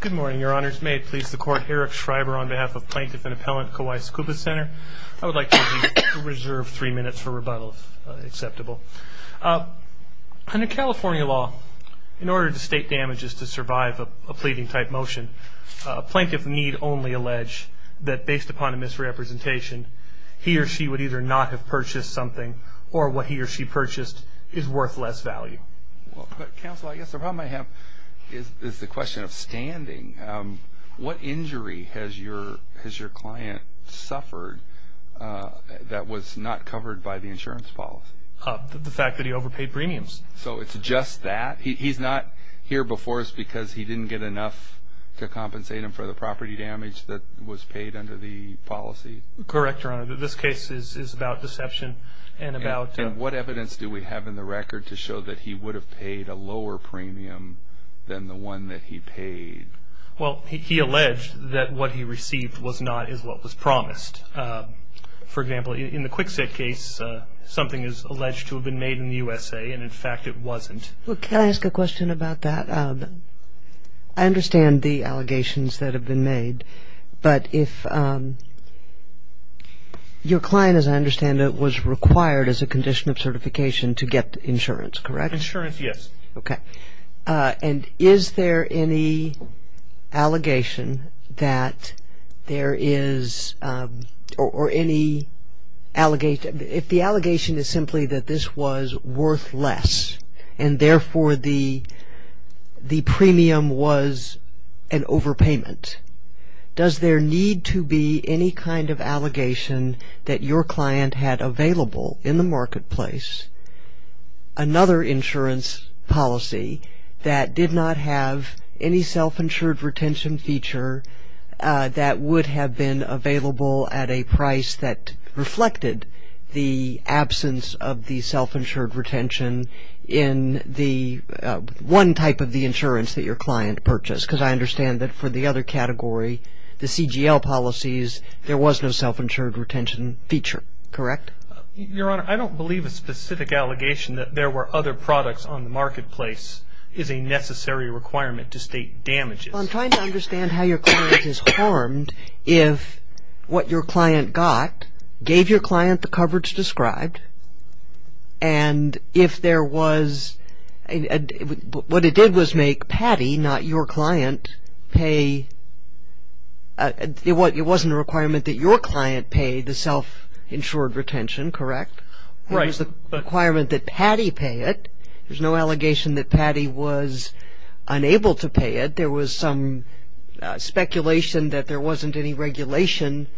Good morning, Your Honors. May it please the Court, Eric Schreiber on behalf of Plaintiff and Appellant Kauai Scuba Center. I would like to reserve three minutes for rebuttal if acceptable. Under California law, in order to state damages to survive a pleading type motion, Plaintiff need only allege that based upon a misrepresentation, he or she would either not have purchased something or what he or she purchased is worth less value. Well, Counsel, I guess the problem I have is the question of standing. What injury has your client suffered that was not covered by the insurance policy? The fact that he overpaid premiums. So it's just that? He's not here before us because he didn't get enough to compensate him for the property damage that was paid under the policy? Correct, Your Honor. This case is about deception and about... What evidence do we have in the record to show that he would have paid a lower premium than the one that he paid? Well, he alleged that what he received was not what was promised. For example, in the Kwikset case, something is alleged to have been made in the USA, and in fact it wasn't. Well, can I ask a question about that? I understand the allegations that have been made, but if your client, as I understand it, was required as a condition of certification to get insurance, correct? Insurance, yes. Okay. And is there any allegation that there is... or any... if the allegation is simply that this was worth less, and therefore the premium was an overpayment, does there need to be any kind of allegation that your client had available in the marketplace another insurance policy that did not have any self-insured retention feature that would have been available at a price that reflected the absence of the self-insured retention in the one type of the insurance that your client purchased? Because I understand that for the other category, the CGL policies, there was no self-insured retention feature, correct? Your Honor, I don't believe a specific allegation that there were other products on the marketplace is a necessary requirement to state damages. Well, I'm trying to understand how your client is harmed if what your client got gave your client the coverage described, and if there was... what it did was make Patty, not your It wasn't a requirement that your client pay the self-insured retention, correct? Right. It was the requirement that Patty pay it. There's no allegation that Patty was unable to pay it. There was some speculation that there wasn't any regulation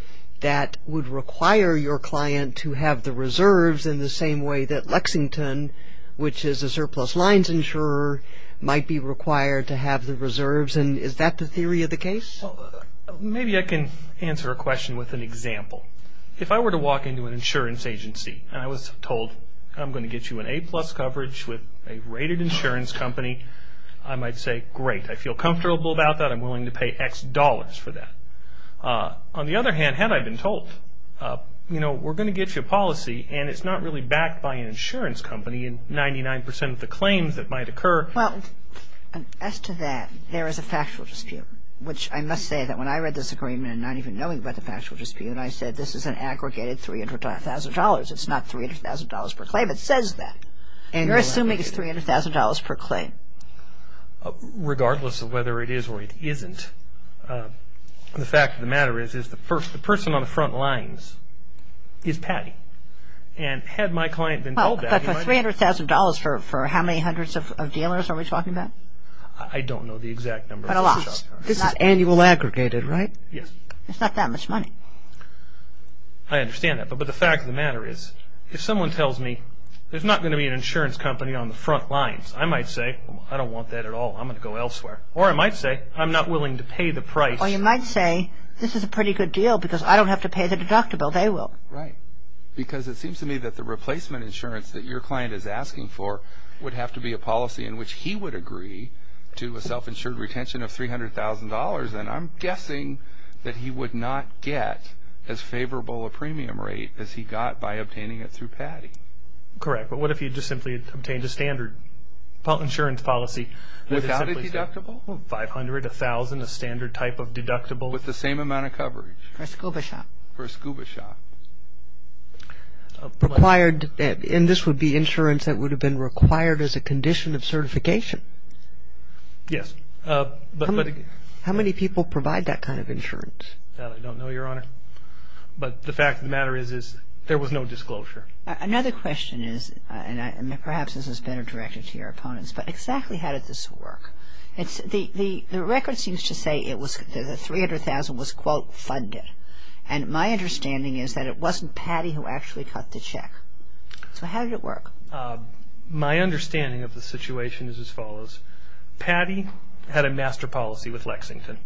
that would require your client to have the reserves in the same way that Lexington, which is a surplus lines insurer, might be required to have the reserves. And is that the theory of the case? Maybe I can answer a question with an example. If I were to walk into an insurance agency and I was told, I'm going to get you an A plus coverage with a rated insurance company, I might say, great. I feel comfortable about that. I'm willing to pay X dollars for that. On the other hand, had I been told, you know, we're going to get you a policy and it's not really backed by an insurance company and 99% of the claims that might occur... Well, as to that, there is a factual dispute, which I must say that when I read this agreement and not even knowing about the factual dispute, I said, this is an aggregated $300,000. It's not $300,000 per claim. It says that. And you're assuming it's $300,000 per claim. Regardless of whether it is or it isn't, the fact of the matter is, is the person on the front lines is Patty. And had my client been told that... $300,000 for how many hundreds of dealers are we talking about? I don't know the exact number. But a lot. This is annual aggregated, right? Yes. It's not that much money. I understand that. But the fact of the matter is, if someone tells me, there's not going to be an insurance company on the front lines, I might say, I don't want that at all. I'm going to go elsewhere. Or I might say, I'm not willing to pay the price. Or you might say, this is a pretty good deal because I don't have to pay the deductible. They will. Right. Because it seems to me that the replacement insurance that your client is asking for would have to be a policy in which he would agree to a self-insured retention of $300,000. And I'm guessing that he would not get as favorable a premium rate as he got by obtaining it through Patty. Correct. But what if he just simply obtained a standard insurance policy? Without a deductible? $500,000, $1,000, a standard type of deductible. With the same amount of coverage? For a scuba shop. For a scuba shop. Required, and this would be insurance that would have been required as a condition of certification? Yes. But, but How many people provide that kind of insurance? That I don't know, Your Honor. But the fact of the matter is, is there was no disclosure. Another question is, and perhaps this is better directed to your opponents, but exactly how did this work? The record seems to say it was, the $300,000 was, quote, funded. And my understanding is that it wasn't Patty who actually cut the check. So how did it work? My understanding of the situation is as follows. Patty had a master policy with Lexington.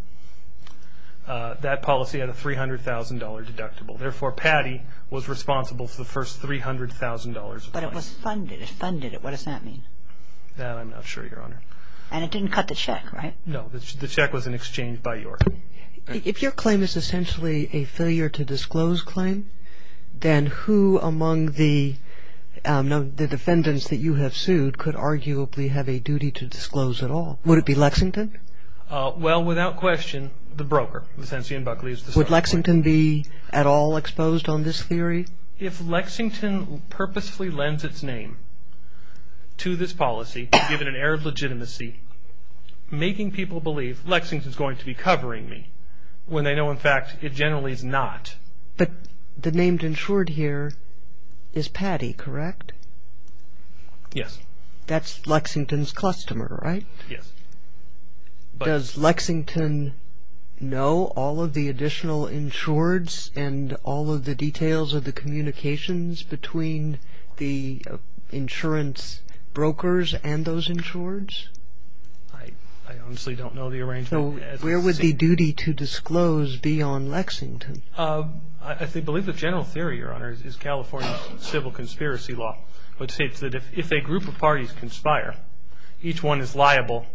That policy had a $300,000 deductible. Therefore, Patty was responsible for the first $300,000 of claims. But it was funded. It funded it. What does that mean? That I'm not sure, Your Honor. And it didn't cut the check, right? No. The check was an exchange by York. If your claim is essentially a failure to disclose claim, then who among the defendants that you have sued could arguably have a duty to disclose at all? Would it be Lexington? Well, without question, the broker, Lucentian Buckley is the subject. Would Lexington be at all exposed on this theory? If Lexington purposefully lends its name to this policy, given an error of legitimacy, making people believe Lexington is going to be covering me when they know, in fact, it generally is not. But the named insured here is Patty, correct? Yes. That's Lexington's customer, right? Yes. Does Lexington know all of the additional insureds and all of the details of the communications between the insurance brokers and those insureds? I honestly don't know the arrangement. Where would the duty to disclose be on Lexington? I believe the general theory, Your Honor, is California's civil conspiracy law, which states that if a group of parties conspire, each one is liable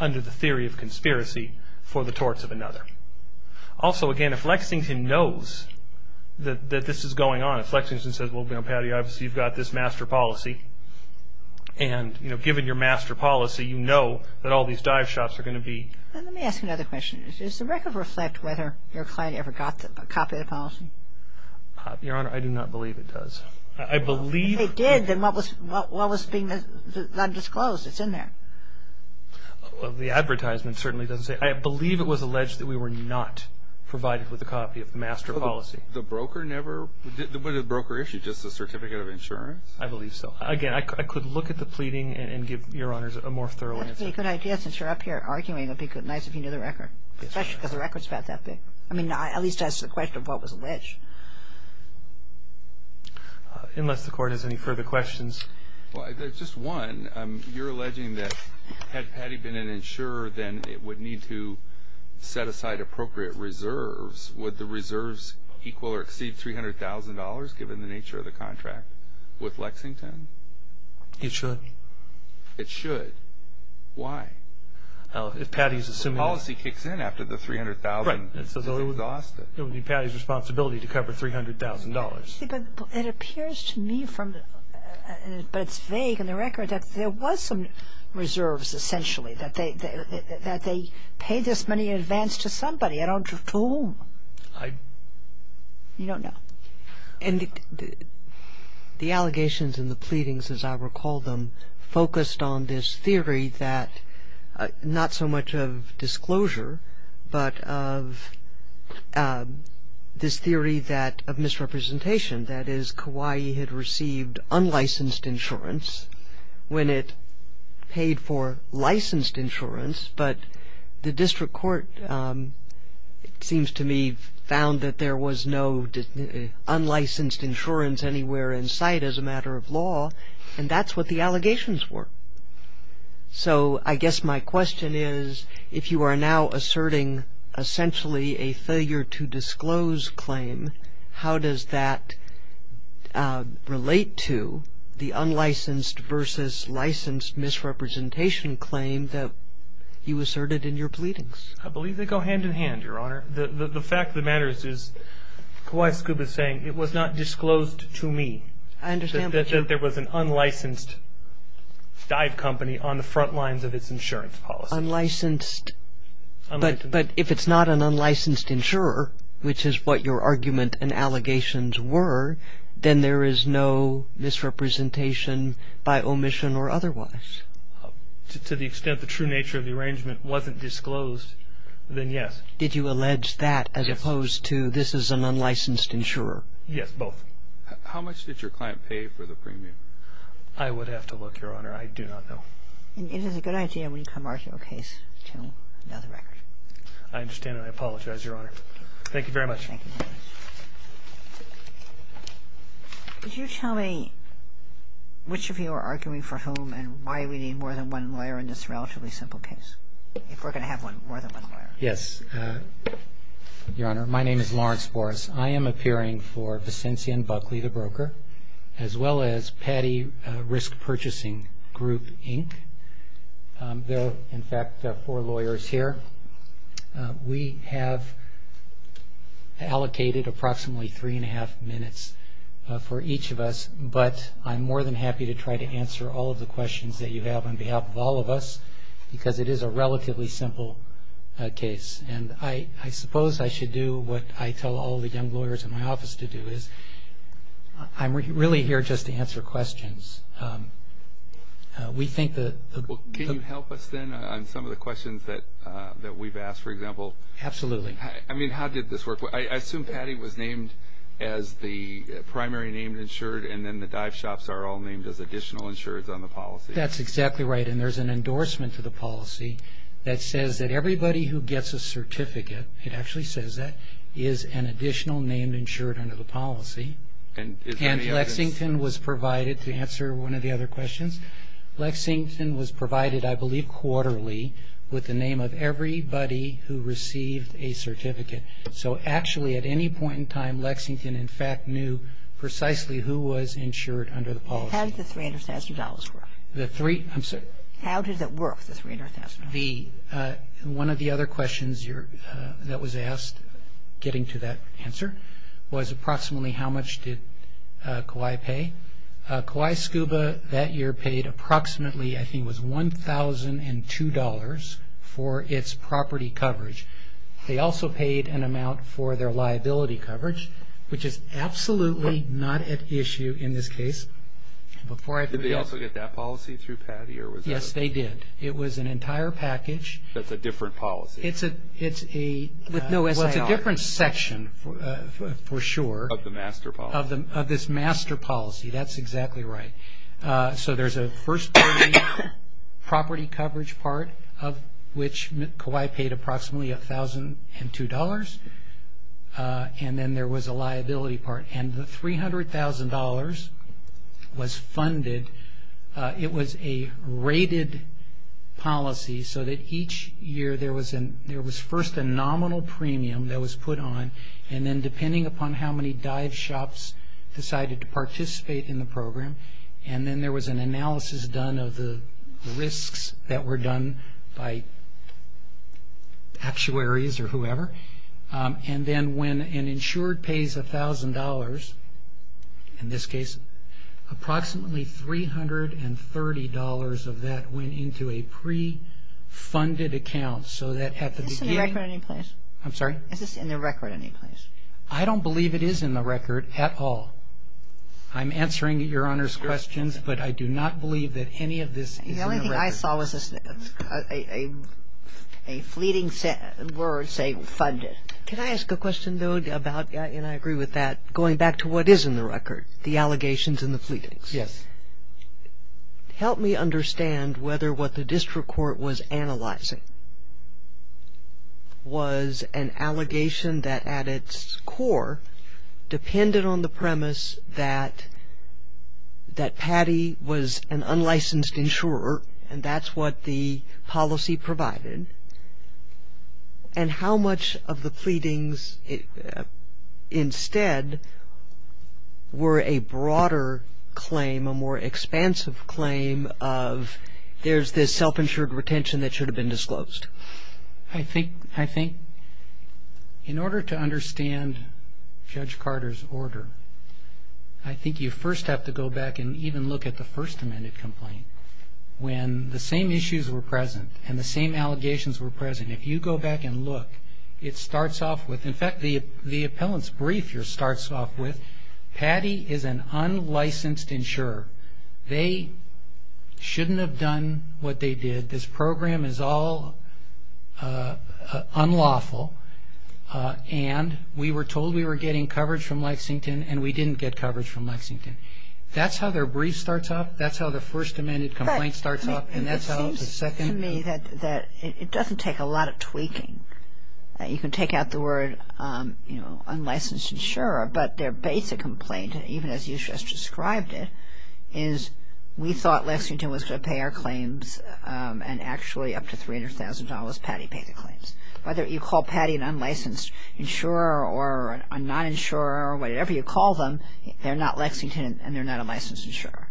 under the theory of conspiracy for the torts of another. Also, again, if Lexington knows that this is going on, if Lexington says, well, you know, Patty, obviously you've got this master policy. And, you know, given your master policy, you know that all these dive shops are going to be... Let me ask another question. Does the record reflect whether your client ever got a copy of the policy? Your Honor, I do not believe it does. I believe... If they did, then what was being undisclosed? It's in there. The advertisement certainly doesn't say. I believe it was alleged that we were not provided with a copy of the master policy. The broker never... What did the broker issue, just a certificate of insurance? I believe so. Again, I could look at the pleading and give Your Honors a more thorough answer. That would be a good idea, since you're up here arguing. It would be nice if you knew the record, especially because the record's about that big. I mean, at least ask the question of what was alleged. Unless the Court has any further questions. Well, just one, you're alleging that had Patty been an insurer, then it would need to set aside appropriate reserves. Would the reserves equal or exceed $300,000, given the nature of the contract? With Lexington? It should. It should? Why? Well, if Patty's assuming... The policy kicks in after the $300,000. Right. It's exhausted. It would be Patty's responsibility to cover $300,000. But it appears to me from... But it's vague in the record that there was some reserves, essentially, that they paid this money in advance to somebody. I don't... To whom? I... You don't know. And the allegations and the pleadings, as I recall them, focused on this theory that not so much of disclosure, but of this theory of misrepresentation, that is, Kauai had received unlicensed insurance when it paid for licensed insurance, but the District Court, it seems to me, found that there was no unlicensed insurance anywhere in sight, as a matter of law, and that's what the allegations were. So I guess my question is, if you are now asserting, essentially, a failure-to-disclose claim, how does that relate to the unlicensed versus licensed misrepresentation claim that you asserted in your pleadings? I believe they go hand-in-hand, Your Honor. The fact of the matter is, Kauai Scuba is saying, it was not disclosed to me that there was an unlicensed dive company on the front lines of its insurance policy. Unlicensed... Unlicensed... But if it's not an unlicensed insurer, which is what your argument and allegations were, then there is no misrepresentation by omission or otherwise. To the extent the true nature of the arrangement wasn't disclosed, then yes. Did you allege that, as opposed to, this is an unlicensed insurer? Yes, both. How much did your client pay for the premium? I would have to look, Your Honor. I do not know. It is a good idea, when you come arguing a case, to know the record. I understand and I apologize, Your Honor. Thank you very much. Thank you. Could you tell me which of you are arguing for whom and why we need more than one lawyer in this relatively simple case, if we're going to have more than one lawyer? Yes, Your Honor. My name is Lawrence Boras. I am appearing for Vicentian Buckley, the broker, as well as Patty Risk Purchasing Group, Inc. There are, in fact, four lawyers here. We have allocated approximately three and a half minutes for each of us, but I'm more than happy to try to answer all of the questions that you have on behalf of all of us, because it is a relatively simple case. I suppose I should do what I tell all the young lawyers in my office to do, is I'm really here just to answer questions. Can you help us, then, on some of the questions that we've asked, for example? Absolutely. I mean, how did this work? I assume Patty was named as the primary named insured, and then the dive shops are all named as additional insureds on the policy. That's exactly right, and there's an endorsement to the policy that says that everybody who gets a certificate, it actually says that, is an additional named insured under the policy. And Lexington was provided, to answer one of the other questions, Lexington was provided, I believe, quarterly, with the name of everybody who received a certificate. So actually, at any point in time, Lexington, in fact, knew precisely who was insured under the policy. How did the $300,000 work? The three? I'm sorry. How did it work, the $300,000? One of the other questions that was asked, getting to that answer, was approximately how much did Kauai pay? Kauai SCUBA, that year, paid approximately, I think it was $1,002 for its property coverage. They also paid an amount for their liability coverage, which is absolutely not at issue in this case. Before I forget... Did they also get that policy through Patty, or was that a... Yes, they did. It was an entire package. That's a different policy. It's a... With no SIR. Well, it's a different section, for sure. Of the master policy. Of this master policy, that's exactly right. So there's a first property coverage part, of which Kauai paid approximately $1,002, and then there was a liability part. The $300,000 was funded. It was a rated policy, so that each year there was first a nominal premium that was put on, and then depending upon how many dive shops decided to participate in the program, and then there was an analysis done of the risks that were done by actuaries, or whoever. And then when an insured pays $1,000, in this case, approximately $330 of that went into a pre-funded account, so that at the beginning... Is this in the record any place? I'm sorry? Is this in the record any place? I don't believe it is in the record at all. I'm answering Your Honor's questions, but I do not believe that any of this is in the record. The only thing I saw was a fleeting word saying funded. Can I ask a question, though, about, and I agree with that, going back to what is in the record, the allegations and the fleetings? Yes. Help me understand whether what the district court was analyzing was an allegation that at its core depended on the premise that Patty was an unlicensed insurer, and that's what the policy provided, and how much of the fleetings instead were a broader claim, a more expansive claim of there's this self-insured retention that should have been disclosed? I think in order to understand Judge Carter's order, I think you first have to go back and even look at the First Amendment complaint. When the same issues were present and the same allegations were present, if you go back and look, it starts off with, in fact, the appellant's brief here starts off with Patty is an unlicensed insurer. They shouldn't have done what they did. This program is all unlawful, and we were told we were getting coverage from Lexington, and we didn't get coverage from Lexington. That's how their brief starts off? That's how the First Amendment complaint starts off? It seems to me that it doesn't take a lot of tweaking. You can take out the word, you know, unlicensed insurer, but their basic complaint, even as you just described it, is we thought Lexington was going to pay our claims, and actually up to $300,000, Patty paid the claims. Whether you call Patty an unlicensed insurer or a non-insurer or whatever you call them, they're not Lexington, and they're not a licensed insurer,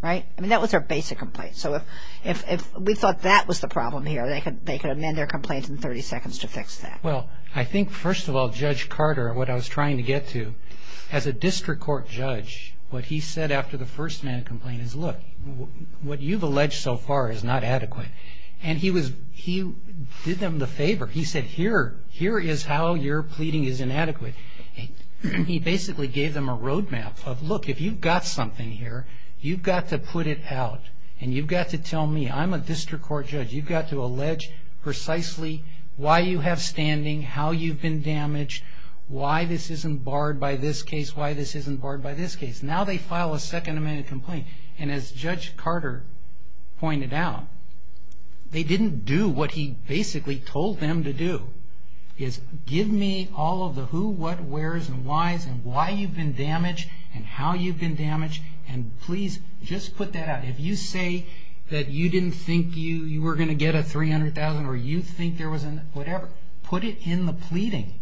right? I mean, that was their basic complaint. So if we thought that was the problem here, they could amend their complaint in 30 seconds to fix that. Well, I think, first of all, Judge Carter, what I was trying to get to, as a district court judge, what he said after the First Amendment complaint is, look, what you've alleged so far is not adequate, and he did them the favor. He said, here is how your pleading is inadequate. He basically gave them a road map of, look, if you've got something here, you've got to put it out, and you've got to tell me. I'm a district court judge. You've got to allege precisely why you have standing, how you've been damaged, why this isn't barred by this case, why this isn't barred by this case. Now they file a Second Amendment complaint, and as Judge Carter pointed out, they didn't do what he basically told them to do, is give me all of the who, what, where's, and why's, and why you've been damaged, and how you've been damaged, and please just put that out. If you say that you didn't think you were going to get a $300,000 or you think there was a whatever, put it in the pleading.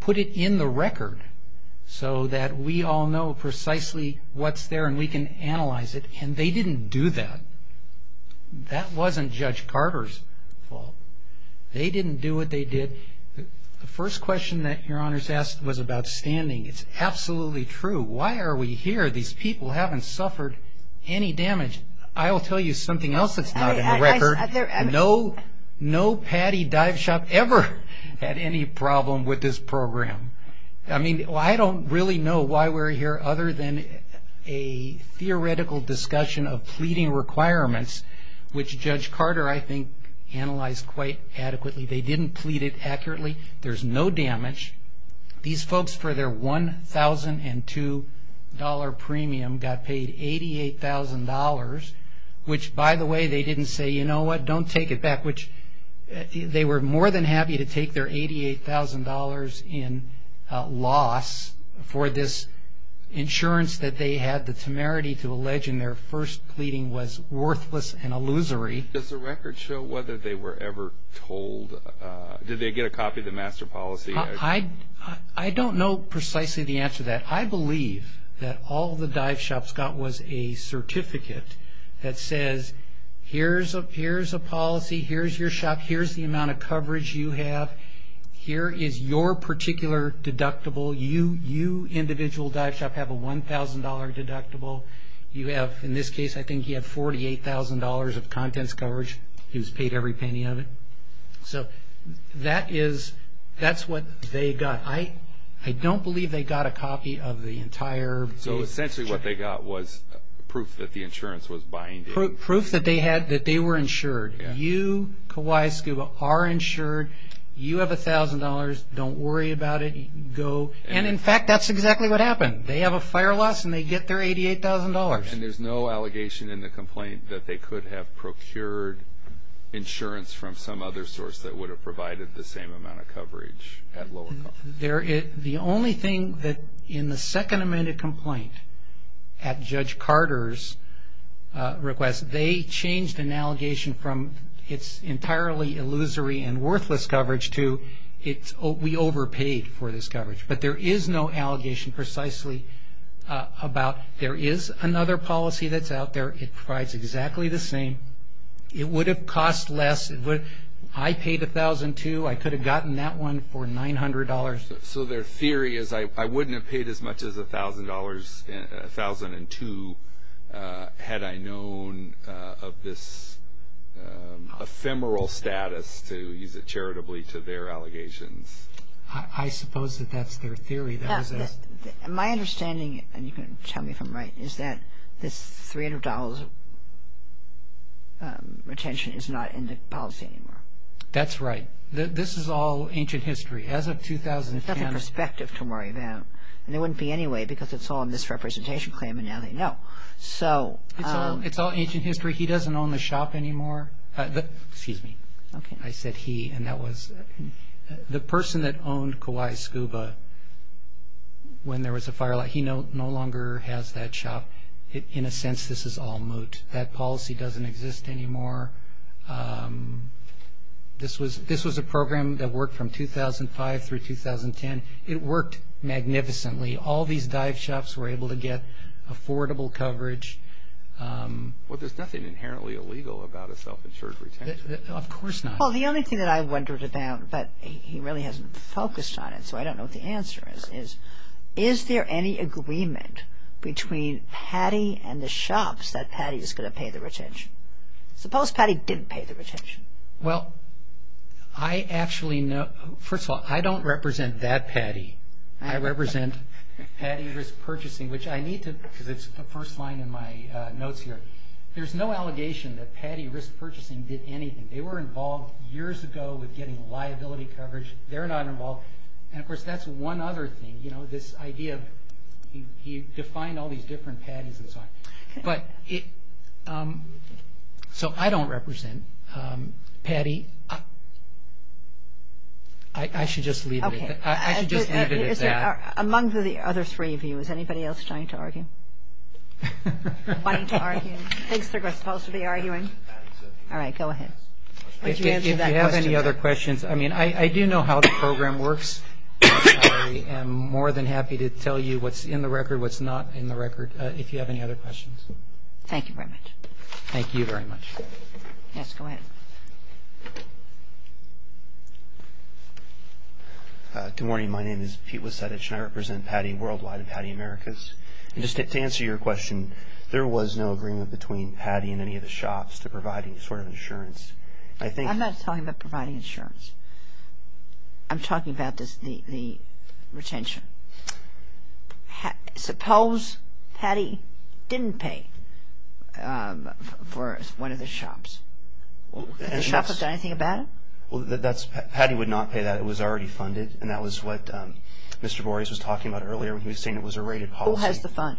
Put it in the record so that we all know precisely what's there and we can analyze it, and they didn't do that. That wasn't Judge Carter's fault. They didn't do what they did. The first question that your Honor's asked was about standing. It's absolutely true. Why are we here? These people haven't suffered any damage. I will tell you something else that's not in the record. No Patty Dive Shop ever had any problem with this program. I mean, I don't really know why we're here other than a theoretical discussion of pleading requirements, which Judge Carter, I think, analyzed quite adequately. They didn't plead it accurately. There's no damage. These folks for their $1,002 premium got paid $88,000, which by the way, they didn't say, you know what, don't take it back, which they were more than happy to take their $88,000 in loss for this insurance that they had. The temerity to allege in their first pleading was worthless and illusory. Does the record show whether they were ever told, did they get a copy of the master policy? I don't know precisely the answer to that. I believe that all the dive shops got was a certificate that says, here's a policy, here's your shop, here's the amount of coverage you have. Here is your particular deductible. You, individual dive shop, have a $1,000 deductible. You have, in this case, I think he had $48,000 of contents coverage. He was paid every penny of it. So that is, that's what they got. I don't believe they got a copy of the entire- So essentially what they got was proof that the insurance was binding. Proof that they were insured. You, Kawhi Scuba, are insured. You have $1,000. Don't worry about it. Go. And in fact, that's exactly what happened. They have a fire loss and they get their $88,000. And there's no allegation in the complaint that they could have procured insurance from some other source that would have provided the same amount of coverage at lower cost? The only thing that in the second amended complaint at Judge Carter's request, they changed an allegation from it's entirely illusory and worthless coverage to we overpaid for this coverage. But there is no allegation precisely about there is another policy that's out there. It provides exactly the same. It would have cost less. I paid $1,002. I could have gotten that one for $900. So their theory is I wouldn't have paid as much as $1,002 had I known of this ephemeral status to use it charitably to their allegations. I suppose that that's their theory. My understanding, and you can tell me if I'm right, is that this $300 retention is not in the policy anymore. That's right. This is all ancient history. As of 2010. That's a perspective to worry about. And it wouldn't be anyway because it's all in this representation claim and now they know. So. It's all ancient history. He doesn't own the shop anymore. Excuse me. Okay. I said he and that was the person that owned Kawhi Scuba when there was a fire. He no longer has that shop. In a sense, this is all moot. That policy doesn't exist anymore. This was a program that worked from 2005 through 2010. It worked magnificently. All these dive shops were able to get affordable coverage. Well, there's nothing inherently illegal about a self-insured retention. Of course not. Well, the only thing that I wondered about, but he really hasn't focused on it so I don't know what the answer is, is there any agreement between Patty and the shops that Patty is going to pay the retention? Suppose Patty didn't pay the retention. Well, I actually know. First of all, I don't represent that Patty. I represent Patty Risk Purchasing, which I need to, because it's the first line in my notes here. There's no allegation that Patty Risk Purchasing did anything. They were involved years ago with getting liability coverage. They're not involved. And of course, that's one other thing. You know, this idea of he defined all these different Pattys and so on. But, so I don't represent Patty. I should just leave it at that. I should just leave it at that. Among the other three of you, is anybody else trying to argue? Wanting to argue? Thinks they're supposed to be arguing? All right, go ahead. If you have any other questions, I mean, I do know how the program works. I am more than happy to tell you what's in the record, what's not in the record, if you have any other questions. Thank you very much. Thank you very much. Yes, go ahead. Good morning. My name is Pete Wasedich, and I represent Patty Worldwide and Patty Americas. And just to answer your question, there was no agreement between Patty and any of the shops to provide any sort of insurance. I think- I'm not talking about providing insurance. I'm talking about the retention. Suppose Patty didn't pay for one of the shops. Would the shop have done anything about it? Well, that's- Patty would not pay that. It was already funded. And that was what Mr. Boreas was talking about earlier when he was saying it was a rated policy. Who has the fund?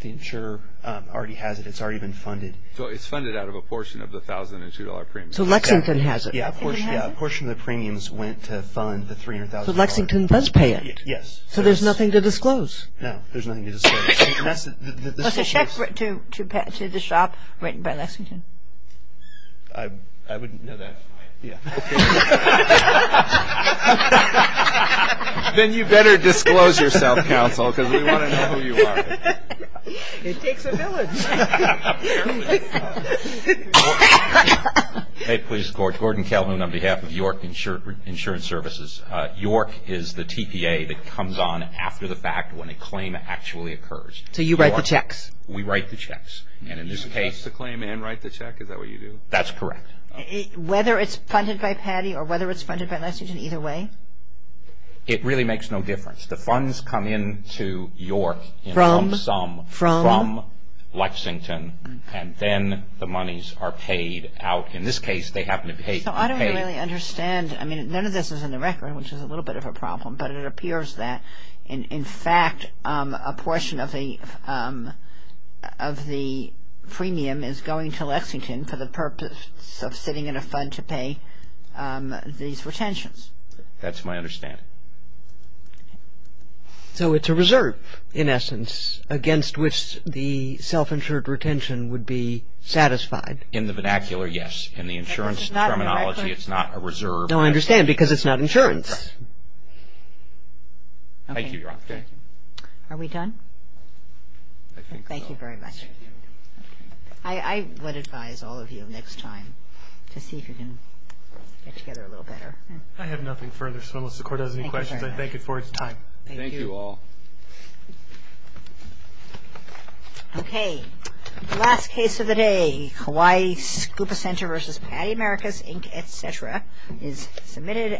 The insurer already has it. It's already been funded. So it's funded out of a portion of the $1,002 premium. So Lexington has it. Yeah, a portion of the premiums went to fund the $300,000. So Lexington does pay it. Yes. So there's nothing to disclose. No, there's nothing to disclose. What's the check to the shop written by Lexington? I wouldn't know that. Yeah. Then you better disclose yourself, counsel, because we want to know who you are. It takes a village. Hey, please. Gordon Calhoun on behalf of York Insurance Services. York is the TPA that comes on after the fact when a claim actually occurs. So you write the checks? We write the checks. And in this case- You disclose the claim and write the check? Is that what you do? That's correct. Whether it's funded by Patty or whether it's funded by Lexington, either way? It really makes no difference. The funds come into York in some sum from Lexington, and then the monies are paid out. In this case, they happen to be paid. So I don't really understand. I mean, none of this is in the record, which is a little bit of a problem, but it appears that, in fact, a portion of the premium is going to Lexington for the purpose of sitting in a fund to pay these retentions. That's my understanding. So it's a reserve, in essence, against which the self-insured retention would be satisfied? In the vernacular, yes. In the insurance terminology, it's not a reserve. No, I understand, because it's not insurance. Thank you, Your Honor. Are we done? I think so. Thank you very much. I would advise all of you next time to see if you can get together a little better. I have nothing further. So unless the Court has any questions, I thank you for your time. Thank you. Thank you all. Okay, last case of the day, Hawaii Scuba Center v. Patty Americas, Inc., etc., is submitted.